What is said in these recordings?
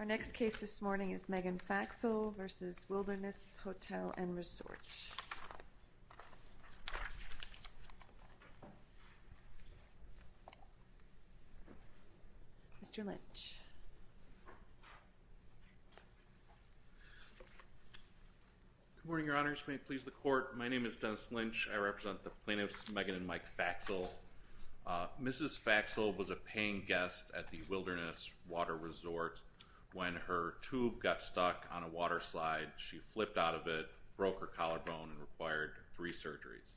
Our next case this morning is Megan Faxel v. Wilderness Hotel & Resort. Mr. Lynch. Good morning, Your Honors. May it please the Court, my name is Dennis Lynch. I represent the plaintiffs, Megan and Mike Faxel. Mrs. Faxel was a paying guest at the Wilderness Water Resort. When her tube got stuck on a water slide, she flipped out of it, broke her collarbone, and required three surgeries.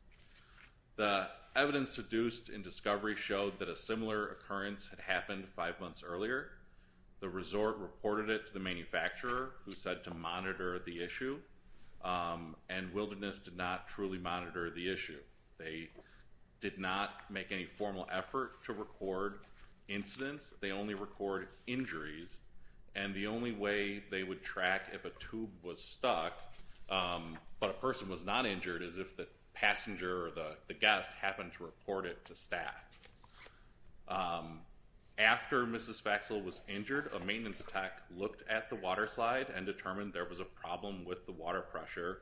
The evidence deduced in discovery showed that a similar occurrence had happened five months earlier. The resort reported it to the manufacturer, who said to monitor the issue, and Wilderness did not truly monitor the issue. They did not make any formal effort to record incidents. They only record injuries. And the only way they would track if a tube was stuck, but a person was not injured, is if the passenger or the guest happened to report it to staff. After Mrs. Faxel was injured, a maintenance tech looked at the water slide and determined there was a problem with the water pressure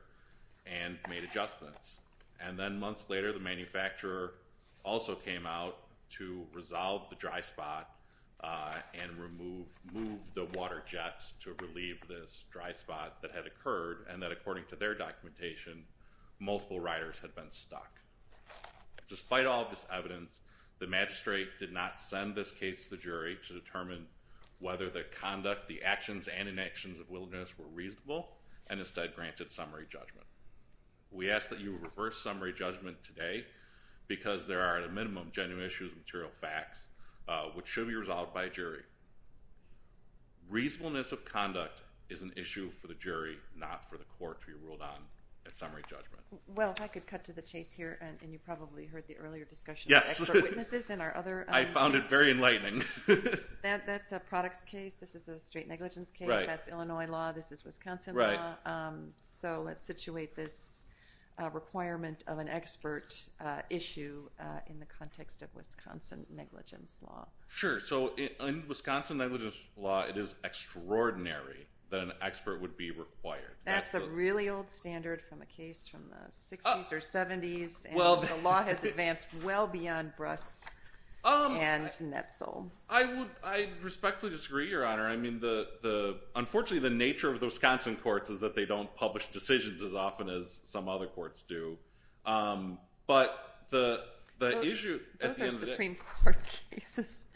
and made adjustments. And then months later, the manufacturer also came out to resolve the dry spot and move the water jets to relieve this dry spot that had occurred, and that according to their documentation, multiple riders had been stuck. Despite all of this evidence, the magistrate did not send this case to the jury to determine whether the conduct, the actions, and inactions of Wilderness were reasonable, and instead granted summary judgment. We ask that you reverse summary judgment today, because there are at a minimum genuine issues and material facts, which should be resolved by a jury. Reasonableness of conduct is an issue for the jury, not for the court to be ruled on at summary judgment. Well, if I could cut to the chase here, and you probably heard the earlier discussion of expert witnesses and our other... I found it very enlightening. That's a products case. This is a straight negligence case. That's Illinois law. This is Wisconsin law. So let's situate this requirement of an expert issue in the context of Wisconsin negligence law. Sure. So in Wisconsin negligence law, it is extraordinary that an expert would be required. That's a really old standard from a case from the 60s or 70s, and the law has advanced well beyond Bruss and Netzel. I respectfully disagree, Your Honor. Unfortunately, the nature of the Wisconsin courts is that they don't publish decisions as often as some other courts do. Those are Supreme Court cases.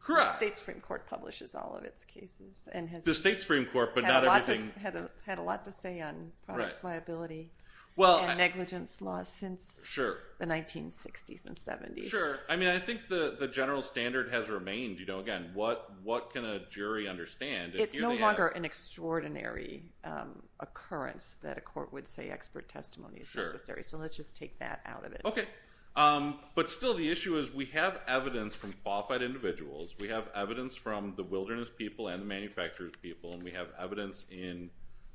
Correct. The state Supreme Court publishes all of its cases and has had a lot to say on products liability and negligence law since the 1960s and 70s. Sure. I think the general standard has remained. Again, what can a jury understand? It's no longer an extraordinary occurrence that a court would say expert testimony is necessary. Sure. So let's just take that out of it. Okay. But still, the issue is we have evidence from qualified individuals. We have evidence from the wilderness people and the manufacturers people, and we have evidence in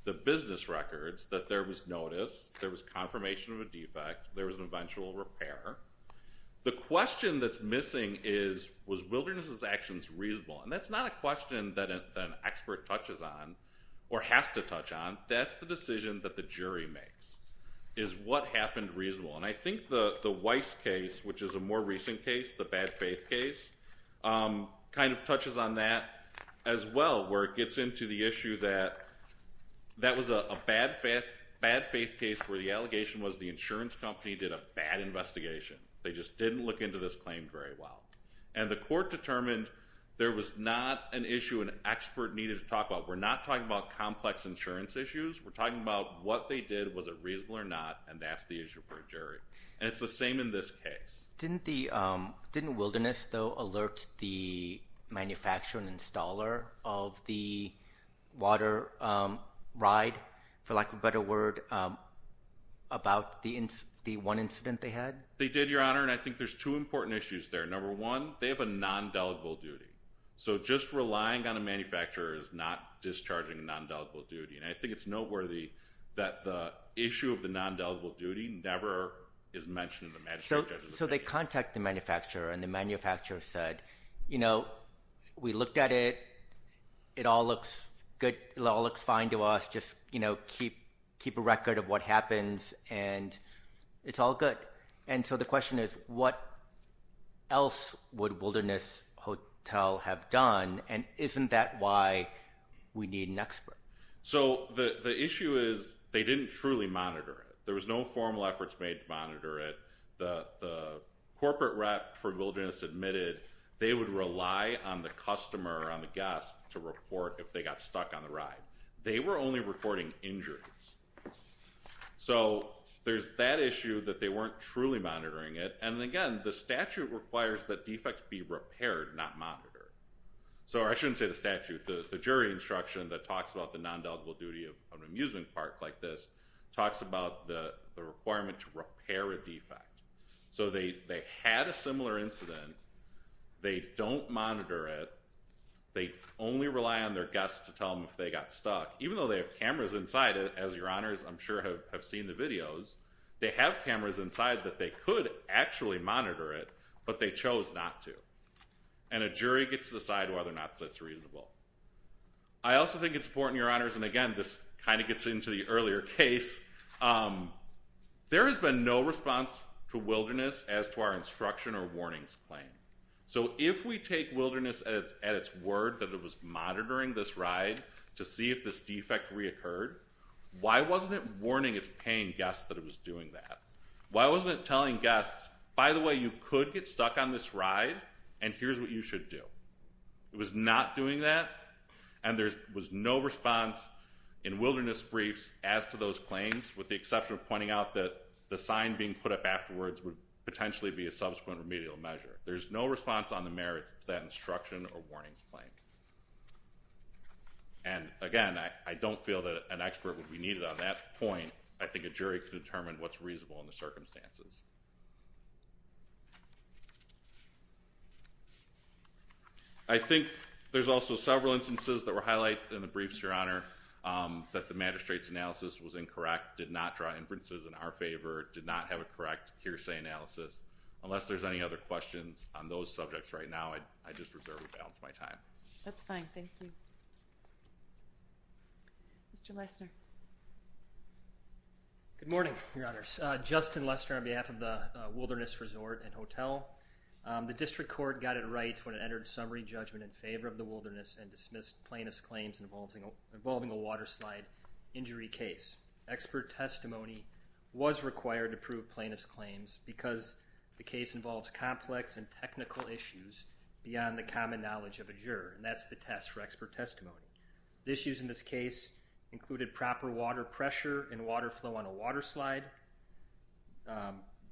the business records that there was notice, there was confirmation of a defect, there was an eventual repair. The question that's missing is, was wilderness's actions reasonable? And that's not a question that an expert touches on or has to touch on. That's the decision that the jury makes, is what happened reasonable? And I think the Weiss case, which is a more recent case, the bad faith case, kind of touches on that as well, where it gets into the issue that that was a bad faith case where the allegation was the insurance company did a bad investigation. They just didn't look into this claim very well. And the court determined there was not an issue an expert needed to talk about. We're not talking about complex insurance issues. We're talking about what they did, was it reasonable or not, and that's the issue for a jury. And it's the same in this case. Didn't wilderness, though, alert the manufacturer and installer of the water ride, for lack of a better word, about the one incident they had? They did, Your Honor, and I think there's two important issues there. Number one, they have a non-deligible duty. So just relying on a manufacturer is not discharging a non-deligible duty. And I think it's noteworthy that the issue of the non-deligible duty never is mentioned in the magistrate judge's opinion. So they contact the manufacturer, and the manufacturer said, you know, we looked at it. It all looks good. It all looks fine to us. Just, you know, keep a record of what happens, and it's all good. And so the question is what else would Wilderness Hotel have done, and isn't that why we need an expert? So the issue is they didn't truly monitor it. There was no formal efforts made to monitor it. The corporate rep for Wilderness admitted they would rely on the customer or on the guest to report if they got stuck on the ride. They were only reporting injuries. So there's that issue that they weren't truly monitoring it. And, again, the statute requires that defects be repaired, not monitored. So I shouldn't say the statute. The jury instruction that talks about the non-deligible duty of an amusement park like this talks about the requirement to repair a defect. So they had a similar incident. They don't monitor it. They only rely on their guest to tell them if they got stuck. Even though they have cameras inside it, as your honors, I'm sure, have seen the videos, they have cameras inside that they could actually monitor it, but they chose not to. And a jury gets to decide whether or not that's reasonable. I also think it's important, your honors, and, again, this kind of gets into the earlier case, there has been no response to Wilderness as to our instruction or warnings claim. So if we take Wilderness at its word that it was monitoring this ride to see if this defect reoccurred, why wasn't it warning its paying guests that it was doing that? Why wasn't it telling guests, by the way, you could get stuck on this ride, and here's what you should do? It was not doing that, and there was no response in Wilderness briefs as to those claims with the exception of pointing out that the sign being put up afterwards would potentially be a subsequent remedial measure. There's no response on the merits to that instruction or warnings claim. And, again, I don't feel that an expert would be needed on that point. I think a jury can determine what's reasonable in the circumstances. I think there's also several instances that were highlighted in the briefs, your honor, that the magistrate's analysis was incorrect, did not draw inferences in our favor, did not have a correct hearsay analysis. Unless there's any other questions on those subjects right now, I just reserve the balance of my time. That's fine. Thank you. Mr. Lesner. Good morning, your honors. Justin Lesner on behalf of the Wilderness Resort and Hotel. The district court got it right when it entered summary judgment in favor of the Wilderness and dismissed plaintiff's claims involving a water slide injury case. Expert testimony was required to prove plaintiff's claims because the case involves complex and technical issues beyond the common knowledge of a juror. And that's the test for expert testimony. The issues in this case included proper water pressure and water flow on a water slide,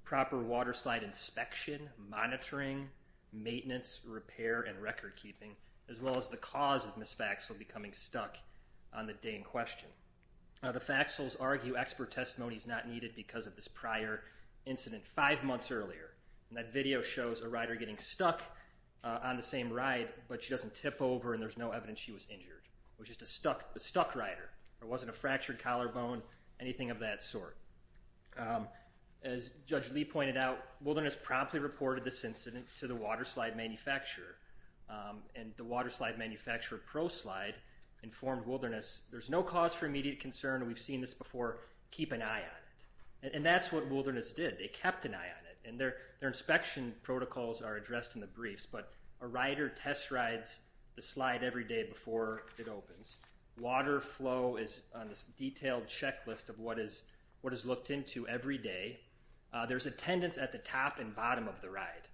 proper water slide inspection, monitoring, maintenance, repair, and record keeping, as well as the cause of Ms. Faxel becoming stuck on the day in question. The Faxels argue expert testimony is not needed because of this prior incident five months earlier. And that video shows a rider getting stuck on the same ride, but she doesn't tip over and there's no evidence she was injured. It was just a stuck rider. It wasn't a fractured collarbone, anything of that sort. As Judge Lee pointed out, Wilderness promptly reported this incident to the water slide manufacturer. And the water slide manufacturer, ProSlide, informed Wilderness, there's no cause for immediate concern. We've seen this before. Keep an eye on it. And that's what Wilderness did. They kept an eye on it. And their inspection protocols are addressed in the briefs. But a rider test rides the slide every day before it opens. Water flow is on this detailed checklist of what is looked into every day. There's attendance at the top and bottom of the ride.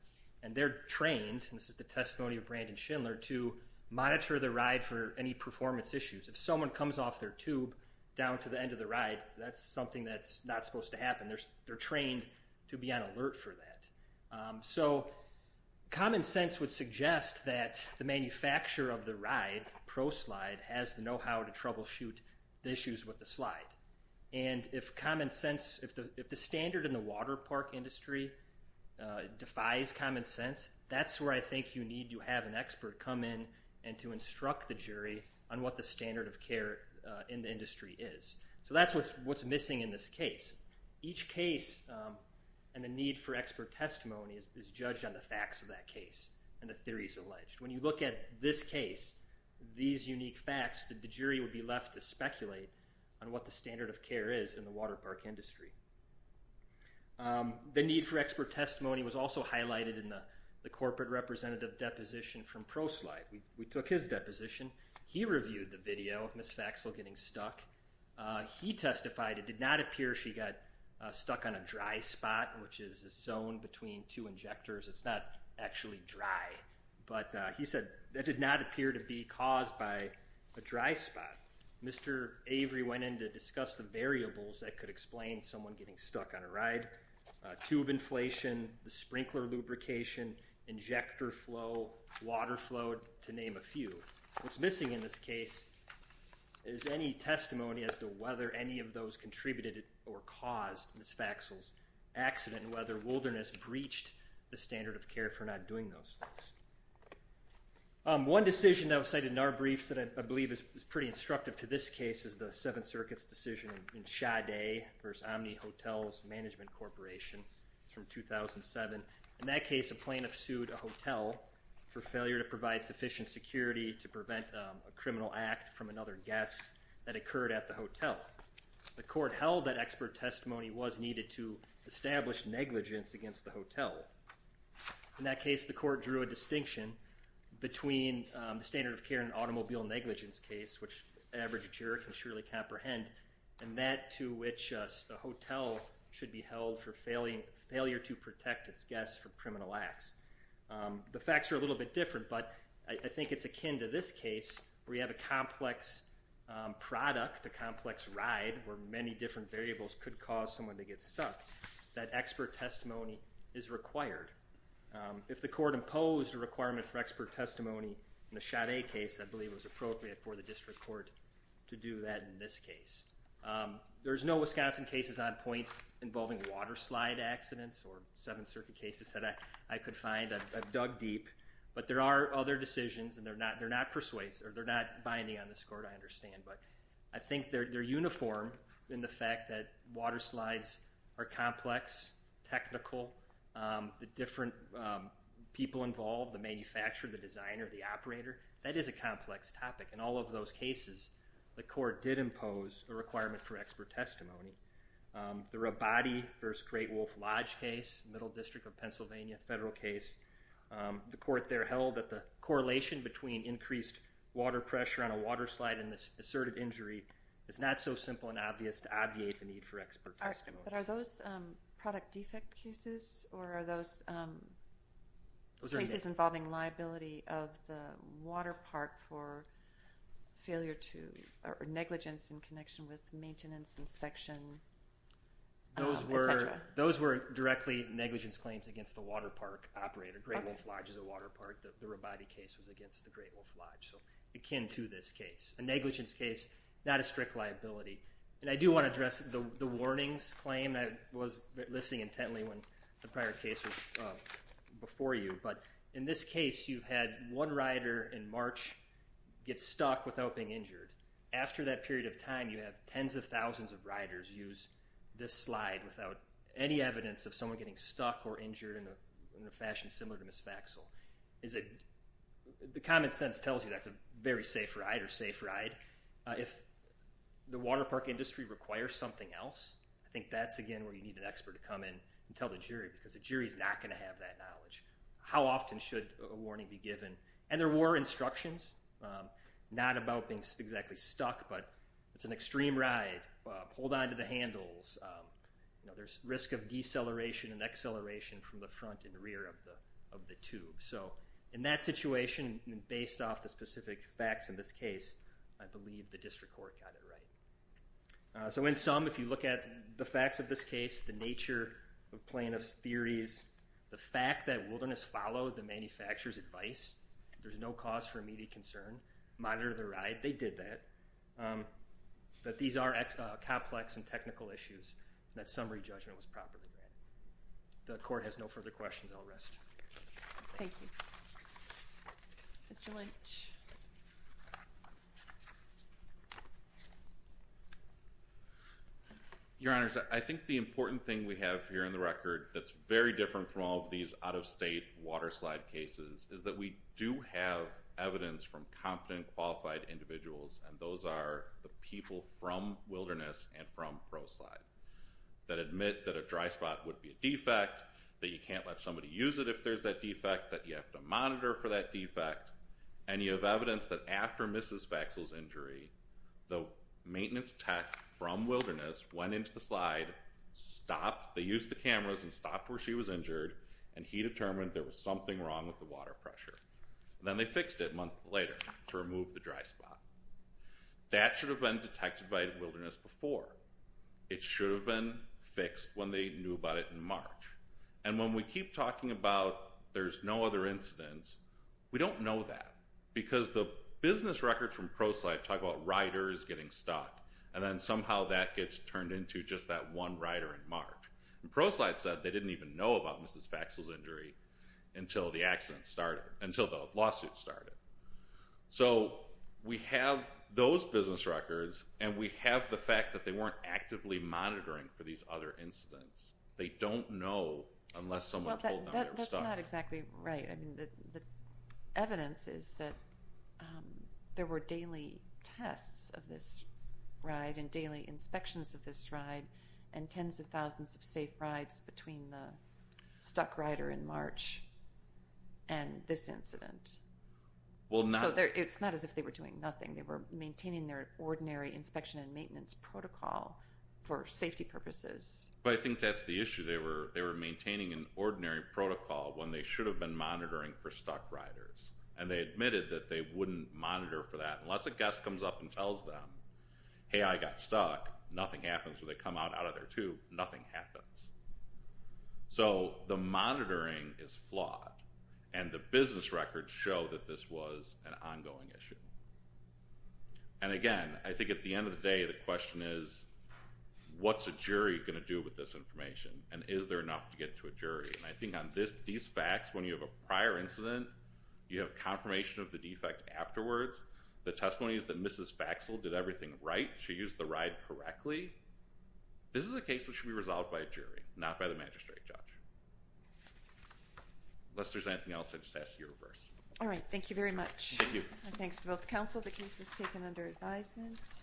And they're trained, and this is the testimony of Brandon Schindler, to monitor the ride for any performance issues. If someone comes off their tube down to the end of the ride, that's something that's not supposed to happen. They're trained to be on alert for that. So common sense would suggest that the manufacturer of the ride, ProSlide, has the know-how to troubleshoot the issues with the slide. And if common sense, if the standard in the water park industry defies common sense, that's where I think you need to have an expert come in and to instruct the jury on what the standard of care in the industry is. So that's what's missing in this case. Each case and the need for expert testimony is judged on the facts of that case and the theories alleged. When you look at this case, these unique facts, the jury would be left to speculate on what the standard of care is in the water park industry. The need for expert testimony was also highlighted in the corporate representative deposition from ProSlide. We took his deposition. He reviewed the video of Ms. Faxel getting stuck. He testified it did not appear she got stuck on a dry spot, which is a zone between two injectors. It's not actually dry. But he said that did not appear to be caused by a dry spot. Mr. Avery went in to discuss the variables that could explain someone getting stuck on a ride. Tube inflation, the sprinkler lubrication, injector flow, water flow, to name a few. What's missing in this case is any testimony as to whether any of those contributed or caused Ms. Faxel's accident, and whether Wilderness breached the standard of care for not doing those things. One decision that was cited in our briefs that I believe is pretty instructive to this case is the Seventh Circuit's decision in Sade v. Omni Hotels Management Corporation. It's from 2007. In that case, a plaintiff sued a hotel for failure to provide sufficient security to prevent a criminal act from another guest that occurred at the hotel. The court held that expert testimony was needed to establish negligence against the hotel. In that case, the court drew a distinction between the standard of care in automobile negligence case, which an average juror can surely comprehend, and that to which the hotel should be held for failure to protect its guests from criminal acts. The facts are a little bit different, but I think it's akin to this case where you have a complex product, a complex ride, where many different variables could cause someone to get stuck, that expert testimony is required. If the court imposed a requirement for expert testimony in the Sade case, I believe it was appropriate for the district court to do that in this case. There's no Wisconsin cases on point involving water slide accidents or Seventh Circuit cases that I could find. I've dug deep, but there are other decisions, and they're not binding on this court, I understand, but I think they're uniform in the fact that water slides are complex, technical. The different people involved, the manufacturer, the designer, the operator, that is a complex topic. In all of those cases, the court did impose a requirement for expert testimony. The Rabati v. Great Wolf Lodge case, Middle District of Pennsylvania federal case, the court there held that the correlation between increased water pressure on a water slide and this asserted injury is not so simple and obvious to obviate the need for expert testimony. But are those product defect cases, or are those cases involving liability of the water park for negligence in connection with maintenance, inspection, et cetera? Those were directly negligence claims against the water park operator. Great Wolf Lodge is a water park. The Rabati case was against the Great Wolf Lodge, so akin to this case. A negligence case, not a strict liability. And I do want to address the warnings claim. I was listening intently when the prior case was before you. But in this case, you had one rider in March get stuck without being injured. After that period of time, you have tens of thousands of riders use this slide without any evidence of someone getting stuck or injured in a fashion similar to misfaxel. The common sense tells you that's a very safe ride or safe ride. If the water park industry requires something else, I think that's, again, where you need an expert to come in and tell the jury, because the jury is not going to have that knowledge. How often should a warning be given? And there were instructions, not about being exactly stuck, but it's an extreme ride. Hold on to the handles. There's risk of deceleration and acceleration from the front and rear of the tube. So in that situation, based off the specific facts in this case, I believe the district court got it right. So in sum, if you look at the facts of this case, the nature of plaintiff's theories, the fact that wilderness followed the manufacturer's advice, there's no cause for immediate concern, monitored the ride, they did that, that these are complex and technical issues, that summary judgment was properly made. The court has no further questions. I'll rest. Thank you. Mr. Lynch. Your Honors, I think the important thing we have here in the record that's very different from all of these out-of-state water slide cases is that we do have evidence from competent, qualified individuals, and those are the people from wilderness and from ProSlide that admit that a dry spot would be a defect, that you can't let somebody use it if there's that defect, that you have to monitor for that defect, and you have evidence that after Mrs. Vaxel's injury, the maintenance tech from wilderness went into the slide, stopped. They used the cameras and stopped where she was injured, and he determined there was something wrong with the water pressure. Then they fixed it a month later to remove the dry spot. That should have been detected by wilderness before. It should have been fixed when they knew about it in March. And when we keep talking about there's no other incidents, we don't know that because the business records from ProSlide talk about riders getting stuck, and then somehow that gets turned into just that one rider in March. ProSlide said they didn't even know about Mrs. Vaxel's injury until the accident started, until the lawsuit started. So we have those business records, and we have the fact that they weren't actively monitoring for these other incidents. They don't know unless someone told them they were stuck. That's not exactly right. The evidence is that there were daily tests of this ride and daily inspections of this ride and tens of thousands of safe rides between the stuck rider in March and this incident. So it's not as if they were doing nothing. They were maintaining their ordinary inspection and maintenance protocol for safety purposes. But I think that's the issue. They were maintaining an ordinary protocol when they should have been monitoring for stuck riders, and they admitted that they wouldn't monitor for that unless a guest comes up and tells them, hey, I got stuck. Nothing happens. When they come out of their tube, nothing happens. So the monitoring is flawed, and the business records show that this was an ongoing issue. And again, I think at the end of the day, the question is, what's a jury going to do with this information, and is there enough to get to a jury? And I think on these facts, when you have a prior incident, you have confirmation of the defect afterwards. The testimony is that Mrs. Vaxel did everything right. She used the ride correctly. This is a case that should be resolved by a jury, not by the magistrate judge. Unless there's anything else, I'd just ask that you reverse. All right, thank you very much. Thank you. Thanks to both counsel. The case is taken under advisement.